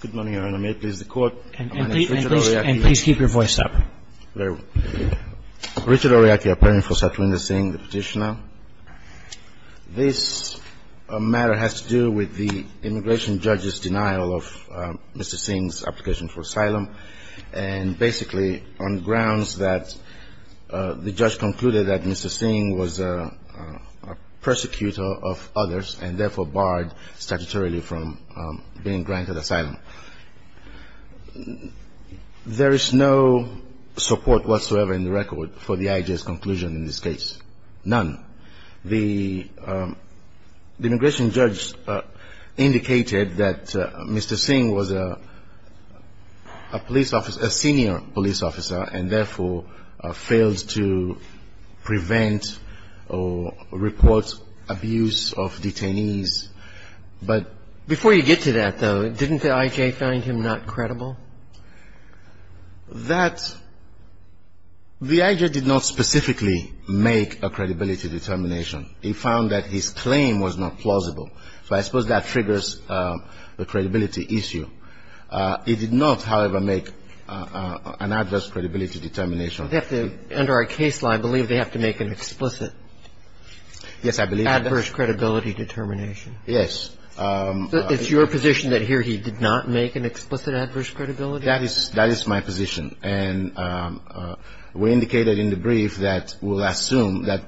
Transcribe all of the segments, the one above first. Good morning, Your Honor. May it please the Court, my name is Richard Oryaki. And please keep your voice up. Very well. Richard Oryaki, a plaintiff for Satwinder Singh, the petitioner. This matter has to do with the immigration judge's denial of Mr. Singh's application for asylum, and basically on grounds that the judge concluded that Mr. Singh was a persecutor of others and therefore barred statutorily from being granted asylum. There is no support whatsoever in the record for the IJ's conclusion in this case, none. The immigration judge indicated that Mr. Singh was a police officer, a senior police officer, and therefore failed to prevent or report abuse of detainees. But before you get to that, though, didn't the IJ find him not credible? That the IJ did not specifically make a credibility determination. He found that his claim was not plausible. So I suppose that triggers the credibility issue. He did not, however, make an adverse credibility determination. Under our case law, I believe they have to make an explicit adverse credibility determination. Yes. It's your position that here he did not make an explicit adverse credibility determination? That is my position. And we indicated in the brief that we'll assume that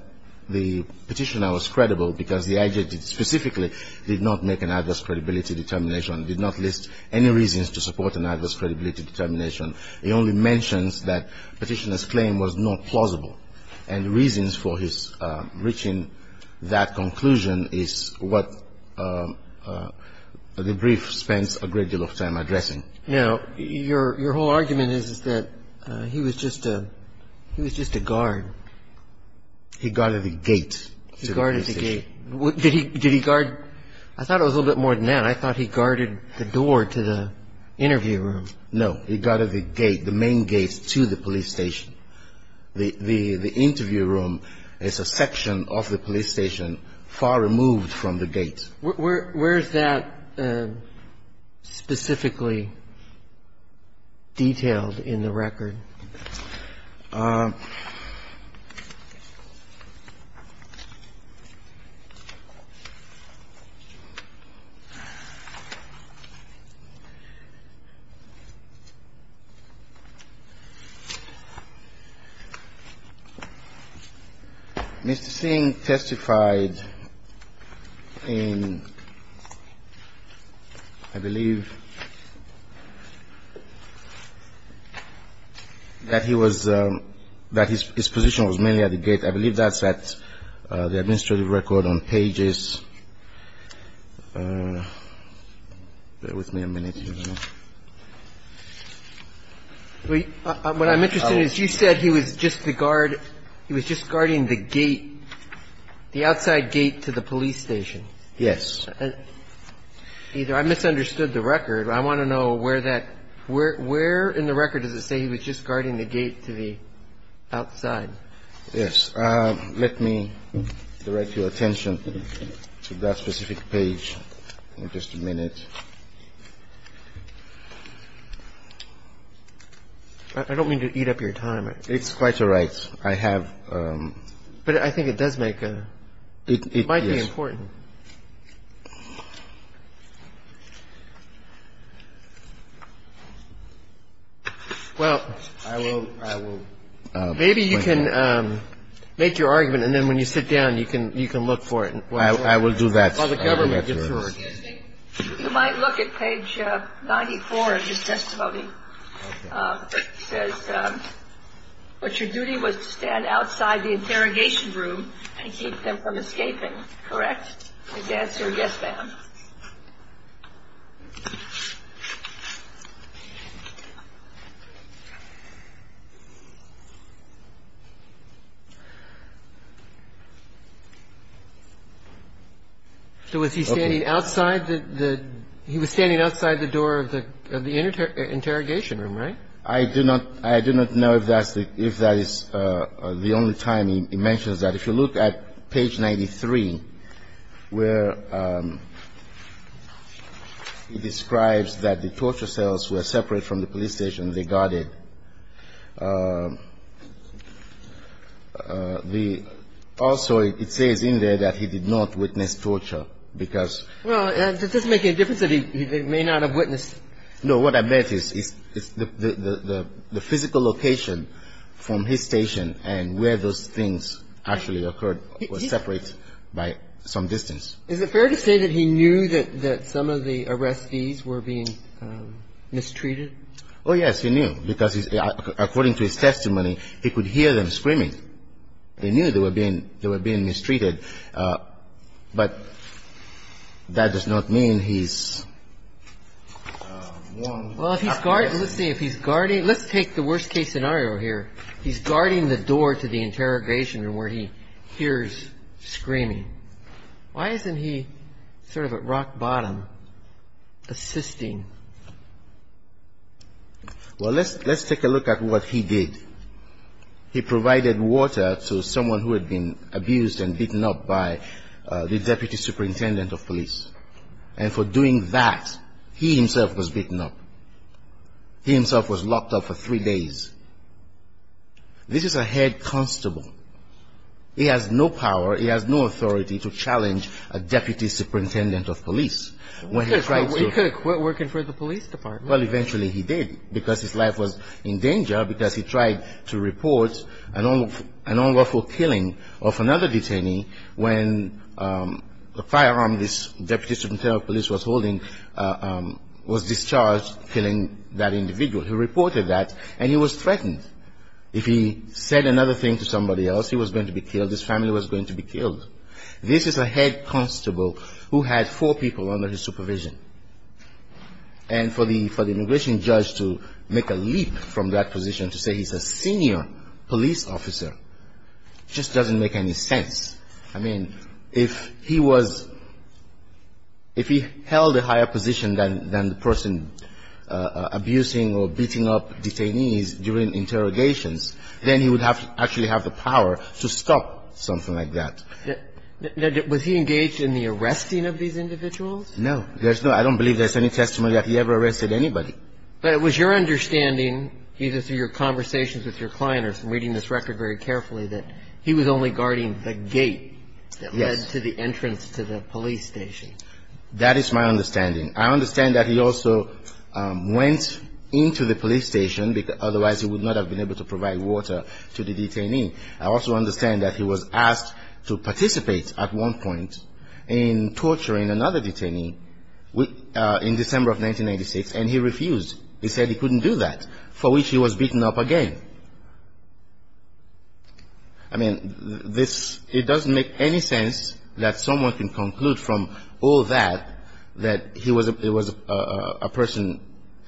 the petitioner was credible because the IJ specifically did not make an adverse credibility determination and did not list any reasons to support an adverse credibility determination. It only mentions that the petitioner's claim was not plausible. And the reasons for his reaching that conclusion is what the brief spends a great deal of time addressing. Now, your whole argument is that he was just a guard. He guarded the gate. Did he guard? I thought it was a little bit more than that. I thought he guarded the door to the interview room. No. He guarded the gate, the main gate to the police station. The interview room is a section of the police station far removed from the gate. Where is that specifically detailed in the record? Mr. Singh testified in, I believe, the first hearing of the Supreme Court. I believe that he was, that his position was mainly at the gate. I believe that's at the administrative record on pages. Bear with me a minute. What I'm interested in is you said he was just the guard. He was just guarding the gate, the outside gate to the police station. Yes. I misunderstood the record. I want to know where that, where in the record does it say he was just guarding the gate to the outside? Yes. Let me direct your attention to that specific page in just a minute. I don't mean to eat up your time. It's quite all right. I have. But I think it does make a, it might be important. Well, maybe you can make your argument, and then when you sit down, you can look for it. I will do that. While the government gets to work. You might look at page 94 of his testimony. It says, but your duty was to stand outside the interrogation room and keep them from escaping. Correct? Yes, sir. Yes, ma'am. So was he standing outside the, the, he was standing outside the door of the, of the interrogation room, right? I do not, I do not know if that's the, if that is the only time he mentions that. If you look at page 93, where he describes that the torture cells were separate from the police station, they guarded. Also, it says in there that he did not witness torture, because. Well, does this make any difference that he may not have witnessed? No, what I meant is the physical location from his station and where those things actually occurred was separate by some distance. Is it fair to say that he knew that some of the arrestees were being mistreated? Oh, yes. He knew, because according to his testimony, he could hear them screaming. He knew they were being mistreated. But that does not mean he's wrong. Well, if he's, let's see, if he's guarding, let's take the worst case scenario here. He's guarding the door to the interrogation room where he hears screaming. Why isn't he sort of at rock bottom assisting? Well, let's, let's take a look at what he did. He provided water to someone who had been abused and beaten up by the deputy superintendent of police. And for doing that, he himself was beaten up. He himself was locked up for three days. This is a head constable. He has no power, he has no authority to challenge a deputy superintendent of police. He could have quit working for the police department. Well, eventually he did, because his life was in danger, because he tried to report an unlawful killing of another detainee when the firearm this deputy superintendent of police was holding was discharged, killing that individual. He reported that, and he was threatened. If he said another thing to somebody else, he was going to be killed, his family was going to be killed. This is a head constable who had four people under his supervision. And for the immigration judge to make a leap from that position to say he's a senior police officer just doesn't make any sense. I mean, if he was, if he held a higher position than the person abusing or beating up detainees during interrogations, then he would have to actually have the power to stop something like that. Now, was he engaged in the arresting of these individuals? No. There's no, I don't believe there's any testimony that he ever arrested anybody. But it was your understanding, either through your conversations with your client or from reading this record very carefully, that he was only guarding the gate that led to the entrance to the police station. Yes. That is my understanding. I understand that he also went into the police station, because otherwise he would not have been able to provide water to the detainee. I also understand that he was asked to participate at one point in torturing another detainee in December of 1996, and he refused. He said he couldn't do that, for which he was beaten up again. I mean, this, it doesn't make any sense that someone can conclude from all that that he was a person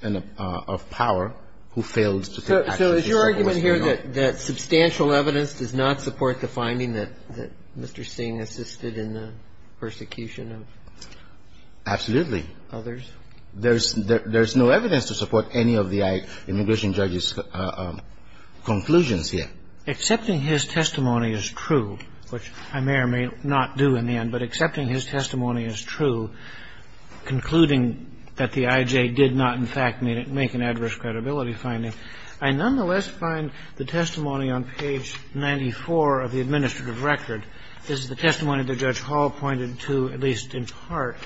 of power who failed to take action. So is your argument here that substantial evidence does not support the finding that Mr. Singh assisted in the persecution of others? Absolutely. There's no evidence to support any of the immigration judge's conclusions here. Accepting his testimony is true, which I may or may not do in the end, but accepting his testimony is true, concluding that the IJ did not, in fact, make an adverse credibility finding. I nonetheless find the testimony on page 94 of the administrative record. This is the testimony that Judge Hall pointed to, at least in part.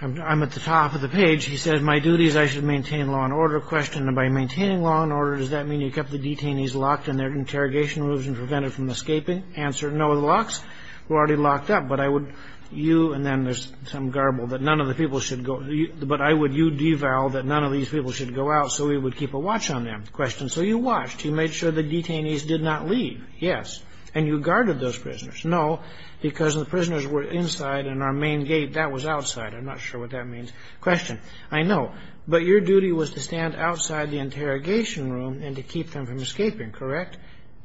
I'm at the top of the page. He says, my duty is I should maintain law and order. Question, by maintaining law and order, does that mean you kept the detainees locked in their interrogation rooms and prevented from escaping? Answer, no, the locks were already locked up, but I would, you, and then there's some garble that none of the people should go, but I would you devalue that none of these people should go out so we would keep a watch on them. Question, so you watched. You made sure the detainees did not leave. Yes. And you guarded those prisoners. No, because the prisoners were inside and our main gate, that was outside. I'm not sure what that means. Question, I know, but your duty was to stand outside the interrogation room and to keep them from escaping, correct?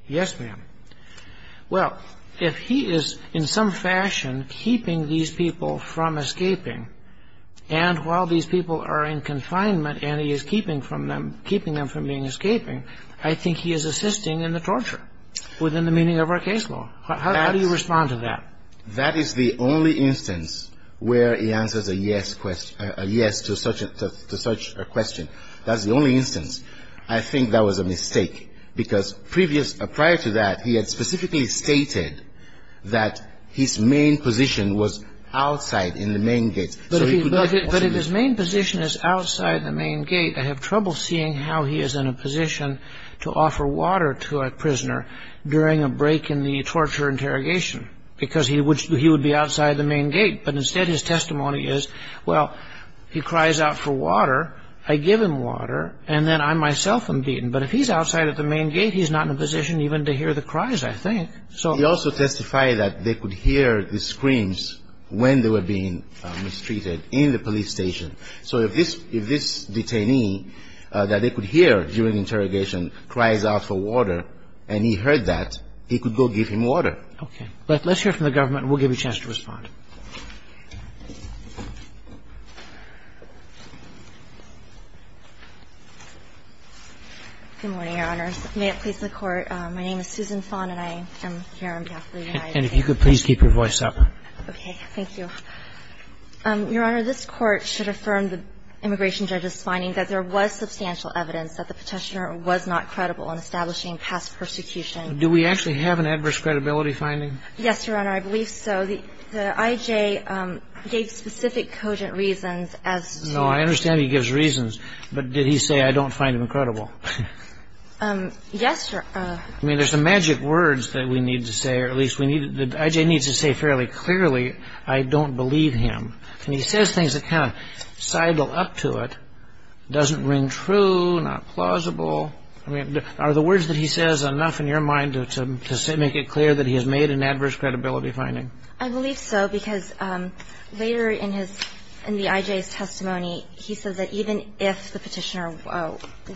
Yes, ma'am. Well, if he is in some fashion keeping these people from escaping, and while these people are in confinement and he is keeping them from being escaping, I think he is assisting in the torture within the meaning of our case law. How do you respond to that? That is the only instance where he answers a yes to such a question. That's the only instance. I think that was a mistake because prior to that he had specifically stated that his main position was outside in the main gate. But if his main position is outside the main gate, I have trouble seeing how he is in a position to offer water to a prisoner during a break in the torture interrogation because he would be outside the main gate. But instead his testimony is, well, he cries out for water, I give him water, and then I myself am beaten. But if he is outside of the main gate, he is not in a position even to hear the cries, I think. He also testified that they could hear the screams when they were being mistreated in the police station. So if this detainee that they could hear during interrogation cries out for water and he heard that, he could go give him water. Okay. Let's hear from the government and we'll give you a chance to respond. Good morning, Your Honors. May it please the Court. My name is Susan Fon and I am here on behalf of the United States. And if you could please keep your voice up. Okay. Thank you. Your Honor, this Court should affirm the immigration judge's finding that there was substantial evidence that the petitioner was not credible in establishing past persecution. Do we actually have an adverse credibility finding? Yes, Your Honor. I believe so. The I.J. gave specific cogent reasons as to... No, I understand he gives reasons. But did he say, I don't find him credible? Yes, Your Honor. I mean, there's some magic words that we need to say, or at least the I.J. needs to say fairly clearly, I don't believe him. And he says things that kind of sidle up to it, doesn't ring true, not plausible. I mean, are the words that he says enough in your mind to make it clear that he has made an adverse credibility finding? I believe so, because later in the I.J.'s testimony, he says that even if the petitioner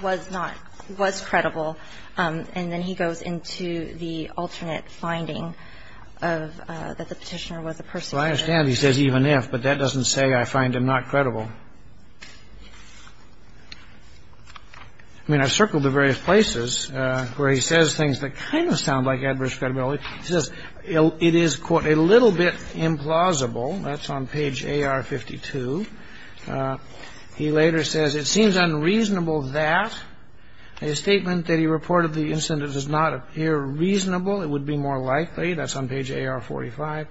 was not, was credible, and then he goes into the alternate finding of that the petitioner was a persecuted... Well, I understand he says even if, but that doesn't say I find him not credible. I mean, I've circled the various places where he says things that kind of sound like adverse credibility. He says it is, quote, a little bit implausible. That's on page AR-52. He later says it seems unreasonable that a statement that he reported the incident does not appear reasonable. It would be more likely. That's on page AR-45.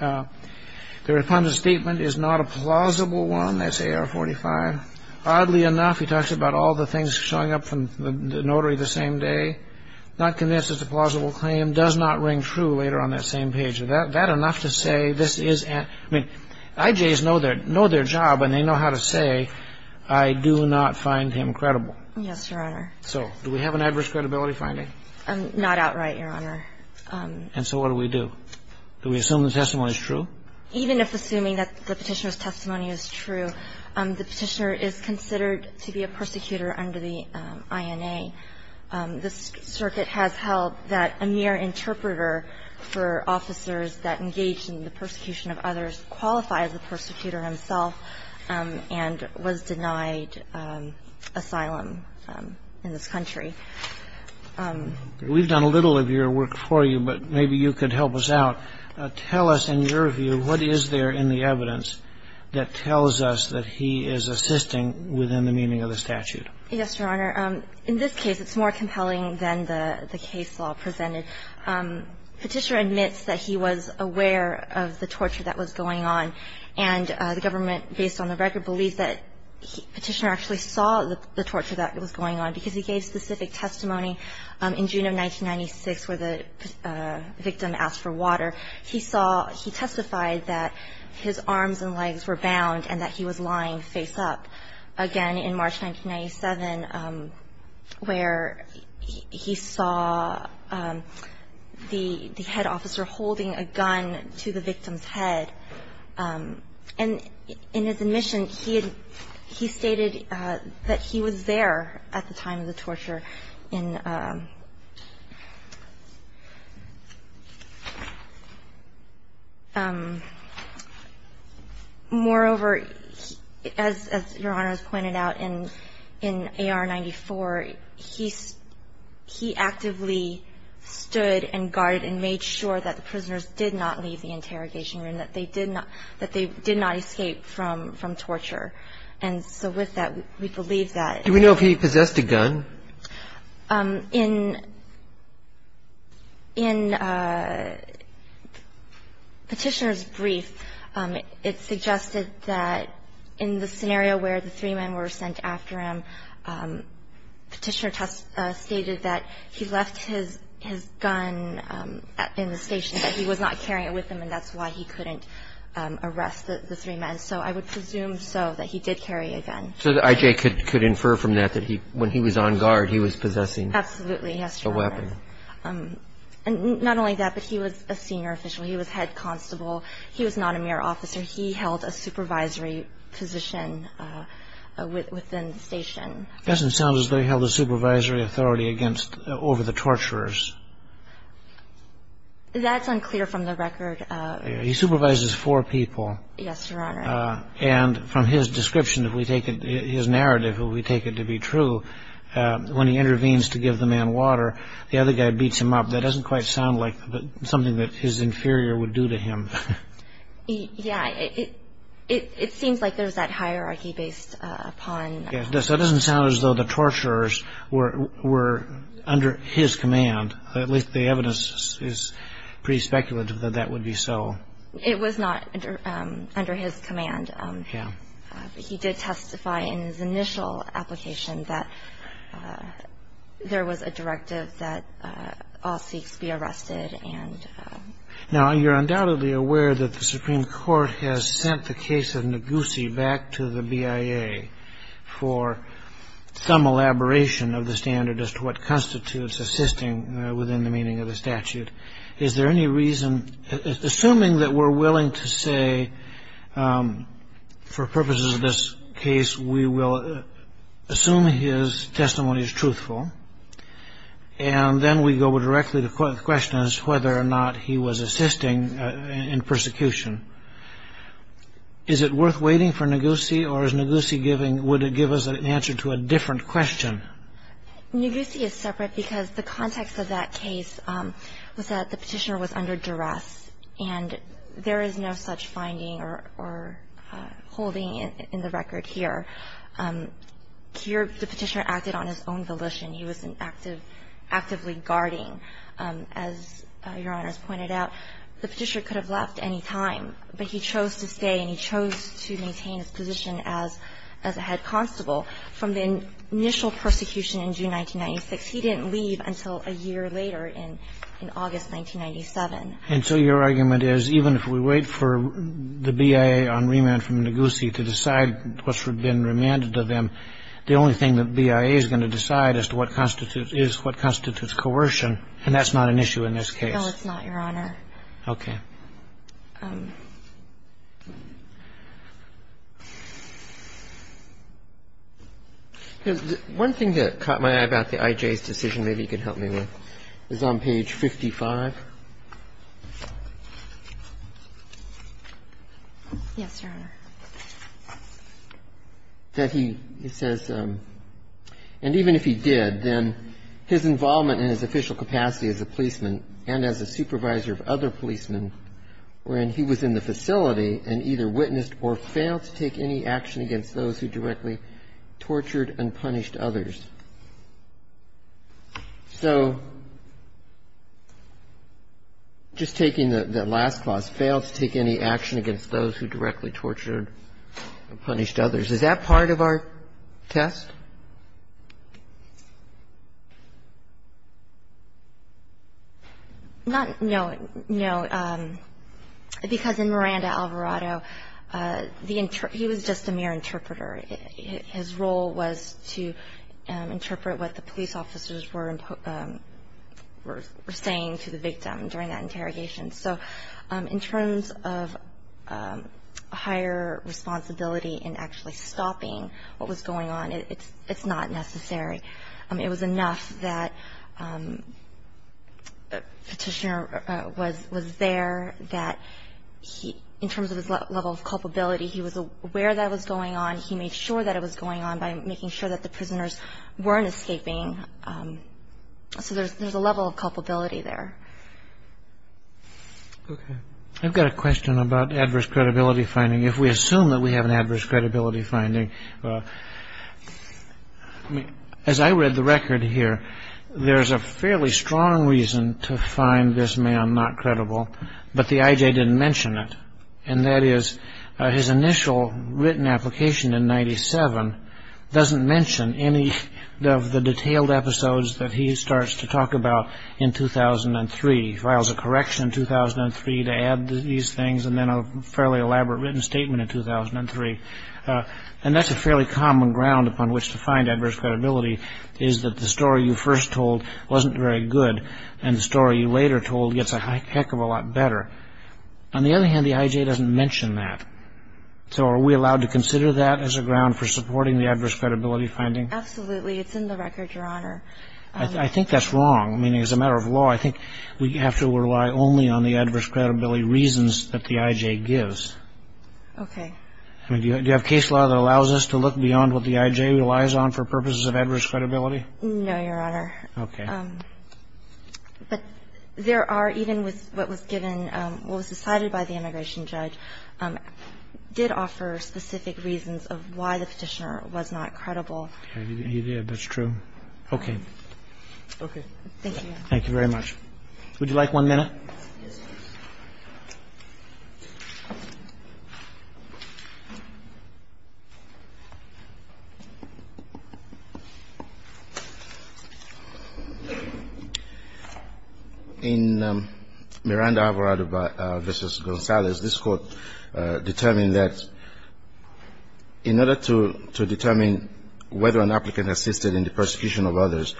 The refunded statement is not a plausible one. That's AR-45. Oddly enough, he talks about all the things showing up from the notary the same day. Not convinced it's a plausible claim. Does not ring true later on that same page. Is that enough to say this is... I mean, I.J.'s know their job, and they know how to say I do not find him credible. Yes, Your Honor. So do we have an adverse credibility finding? Not outright, Your Honor. And so what do we do? Do we assume the testimony is true? Even if assuming that the Petitioner's testimony is true, the Petitioner is considered to be a persecutor under the INA. This circuit has held that a mere interpreter for officers that engage in the persecution of others qualifies as a persecutor himself and was denied asylum in this country. We've done a little of your work for you, but maybe you could help us out. Tell us, in your view, what is there in the evidence that tells us that he is assisting within the meaning of the statute? Yes, Your Honor. In this case, it's more compelling than the case law presented. Petitioner admits that he was aware of the torture that was going on, and the government, based on the record, believes that Petitioner actually saw the torture that was going on, because he gave specific testimony in June of 1996 where the victim asked for water. He saw he testified that his arms and legs were bound and that he was lying face up. Again, in March 1997, where he saw the head officer holding a gun to the victim's head. And in his admission, he stated that he was there at the time of the torture. Moreover, as Your Honor has pointed out, in AR-94, he actively stood and guarded and made sure that the prisoners did not leave the interrogation room, that they did not escape from torture. And so with that, we believe that. Do we know if he possessed a gun? In Petitioner's brief, it suggested that in the scenario where the three men were sent after him, Petitioner stated that he left his gun in the station, that he was not carrying it with him, and that's why he couldn't arrest the three men. So I would presume so, that he did carry a gun. So that I.J. could infer from that that when he was on guard, he was possessing a weapon. Absolutely, yes, Your Honor. And not only that, but he was a senior official. He was head constable. He was not a mere officer. He held a supervisory position within the station. It doesn't sound as though he held a supervisory authority over the torturers. That's unclear from the record. He supervises four people. Yes, Your Honor. And from his description, if we take his narrative, if we take it to be true, when he intervenes to give the man water, the other guy beats him up. That doesn't quite sound like something that his inferior would do to him. Yeah, it seems like there's that hierarchy based upon. That doesn't sound as though the torturers were under his command. At least the evidence is pretty speculative that that would be so. It was not under his command. Yeah. But he did testify in his initial application that there was a directive that all Sikhs be arrested and. Now, you're undoubtedly aware that the Supreme Court has sent the case of Ngozi back to the BIA for some elaboration of the standard as to what constitutes assisting within the meaning of the statute. Is there any reason, assuming that we're willing to say, for purposes of this case, we will assume his testimony is truthful, and then we go directly to questions whether or not he was assisting in persecution? Is it worth waiting for Ngozi or is Ngozi giving, would it give us an answer to a different question? Ngozi is separate because the context of that case was that the petitioner was under duress and there is no such finding or holding in the record here. The petitioner acted on his own volition. He was actively guarding. As Your Honors pointed out, the petitioner could have left any time, but he chose to stay and he chose to maintain his position as a head constable. From the initial persecution in June 1996, he didn't leave until a year later in August 1997. And so your argument is even if we wait for the BIA on remand from Ngozi to decide what's been remanded to them, the only thing that BIA is going to decide as to what constitutes coercion, and that's not an issue in this case. No, it's not, Your Honor. Okay. One thing that caught my eye about the IJ's decision, maybe you can help me with, is on page 55. Yes, Your Honor. That he says, and even if he did, then his involvement in his official capacity as a policeman and as a supervisor of other policemen were when he was in the facility and either witnessed or failed to take any action against those who directly tortured and punished others. So just taking the last clause, failed to take any action against those who directly tortured and punished others. Is that part of our test? No, because in Miranda Alvarado, he was just a mere interpreter. His role was to interpret what the police officers were saying to the victim during that interrogation. So in terms of higher responsibility in actually stopping what was going on, it's not necessary. It was enough that the petitioner was there, that in terms of his level of culpability, he was aware that was going on, he made sure that it was going on by making sure that the prisoners weren't escaping. So there's a level of culpability there. Okay. I've got a question about adverse credibility finding. If we assume that we have an adverse credibility finding, as I read the record here, there's a fairly strong reason to find this man not credible, but the IJ didn't mention it, and that is his initial written application in 97 doesn't mention any of the detailed episodes that he starts to talk about in 2003. He files a correction in 2003 to add these things, and then a fairly elaborate written statement in 2003. And that's a fairly common ground upon which to find adverse credibility, is that the story you first told wasn't very good, and the story you later told gets a heck of a lot better. On the other hand, the IJ doesn't mention that. So are we allowed to consider that as a ground for supporting the adverse credibility finding? Absolutely. It's in the record, Your Honor. I think that's wrong. I mean, as a matter of law, I think we have to rely only on the adverse credibility reasons that the IJ gives. Okay. Do you have case law that allows us to look beyond what the IJ relies on for purposes of adverse credibility? No, Your Honor. Okay. But there are, even with what was given, what was decided by the immigration judge, did offer specific reasons of why the Petitioner was not credible. He did. That's true. Okay. Okay. Thank you, Your Honor. Thank you very much. Would you like one minute? Yes, please. In Miranda, Alvarado v. Gonzalez, this Court determined that in order to determine whether an applicant assisted in the persecution of others,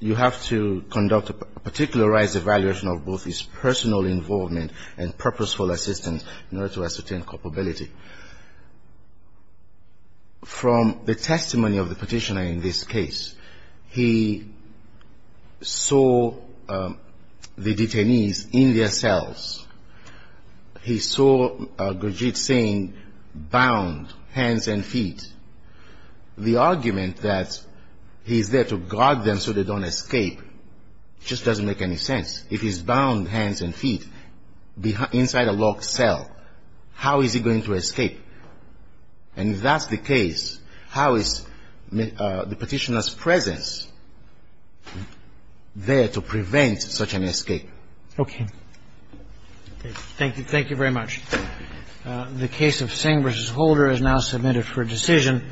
you have to conduct a particularized evaluation of both his personal involvement and purposeful assistance in order to ascertain culpability. From the testimony of the Petitioner in this case, he saw the detainees in their cells. He saw Brigitte saying bound hands and feet. The argument that he's there to guard them so they don't escape just doesn't make any sense. If he's bound hands and feet inside a locked cell, how is he going to escape? And if that's the case, how is the Petitioner's presence there to prevent such an escape? Okay. Thank you. Thank you very much. The case of Singh v. Holder is now submitted for decision.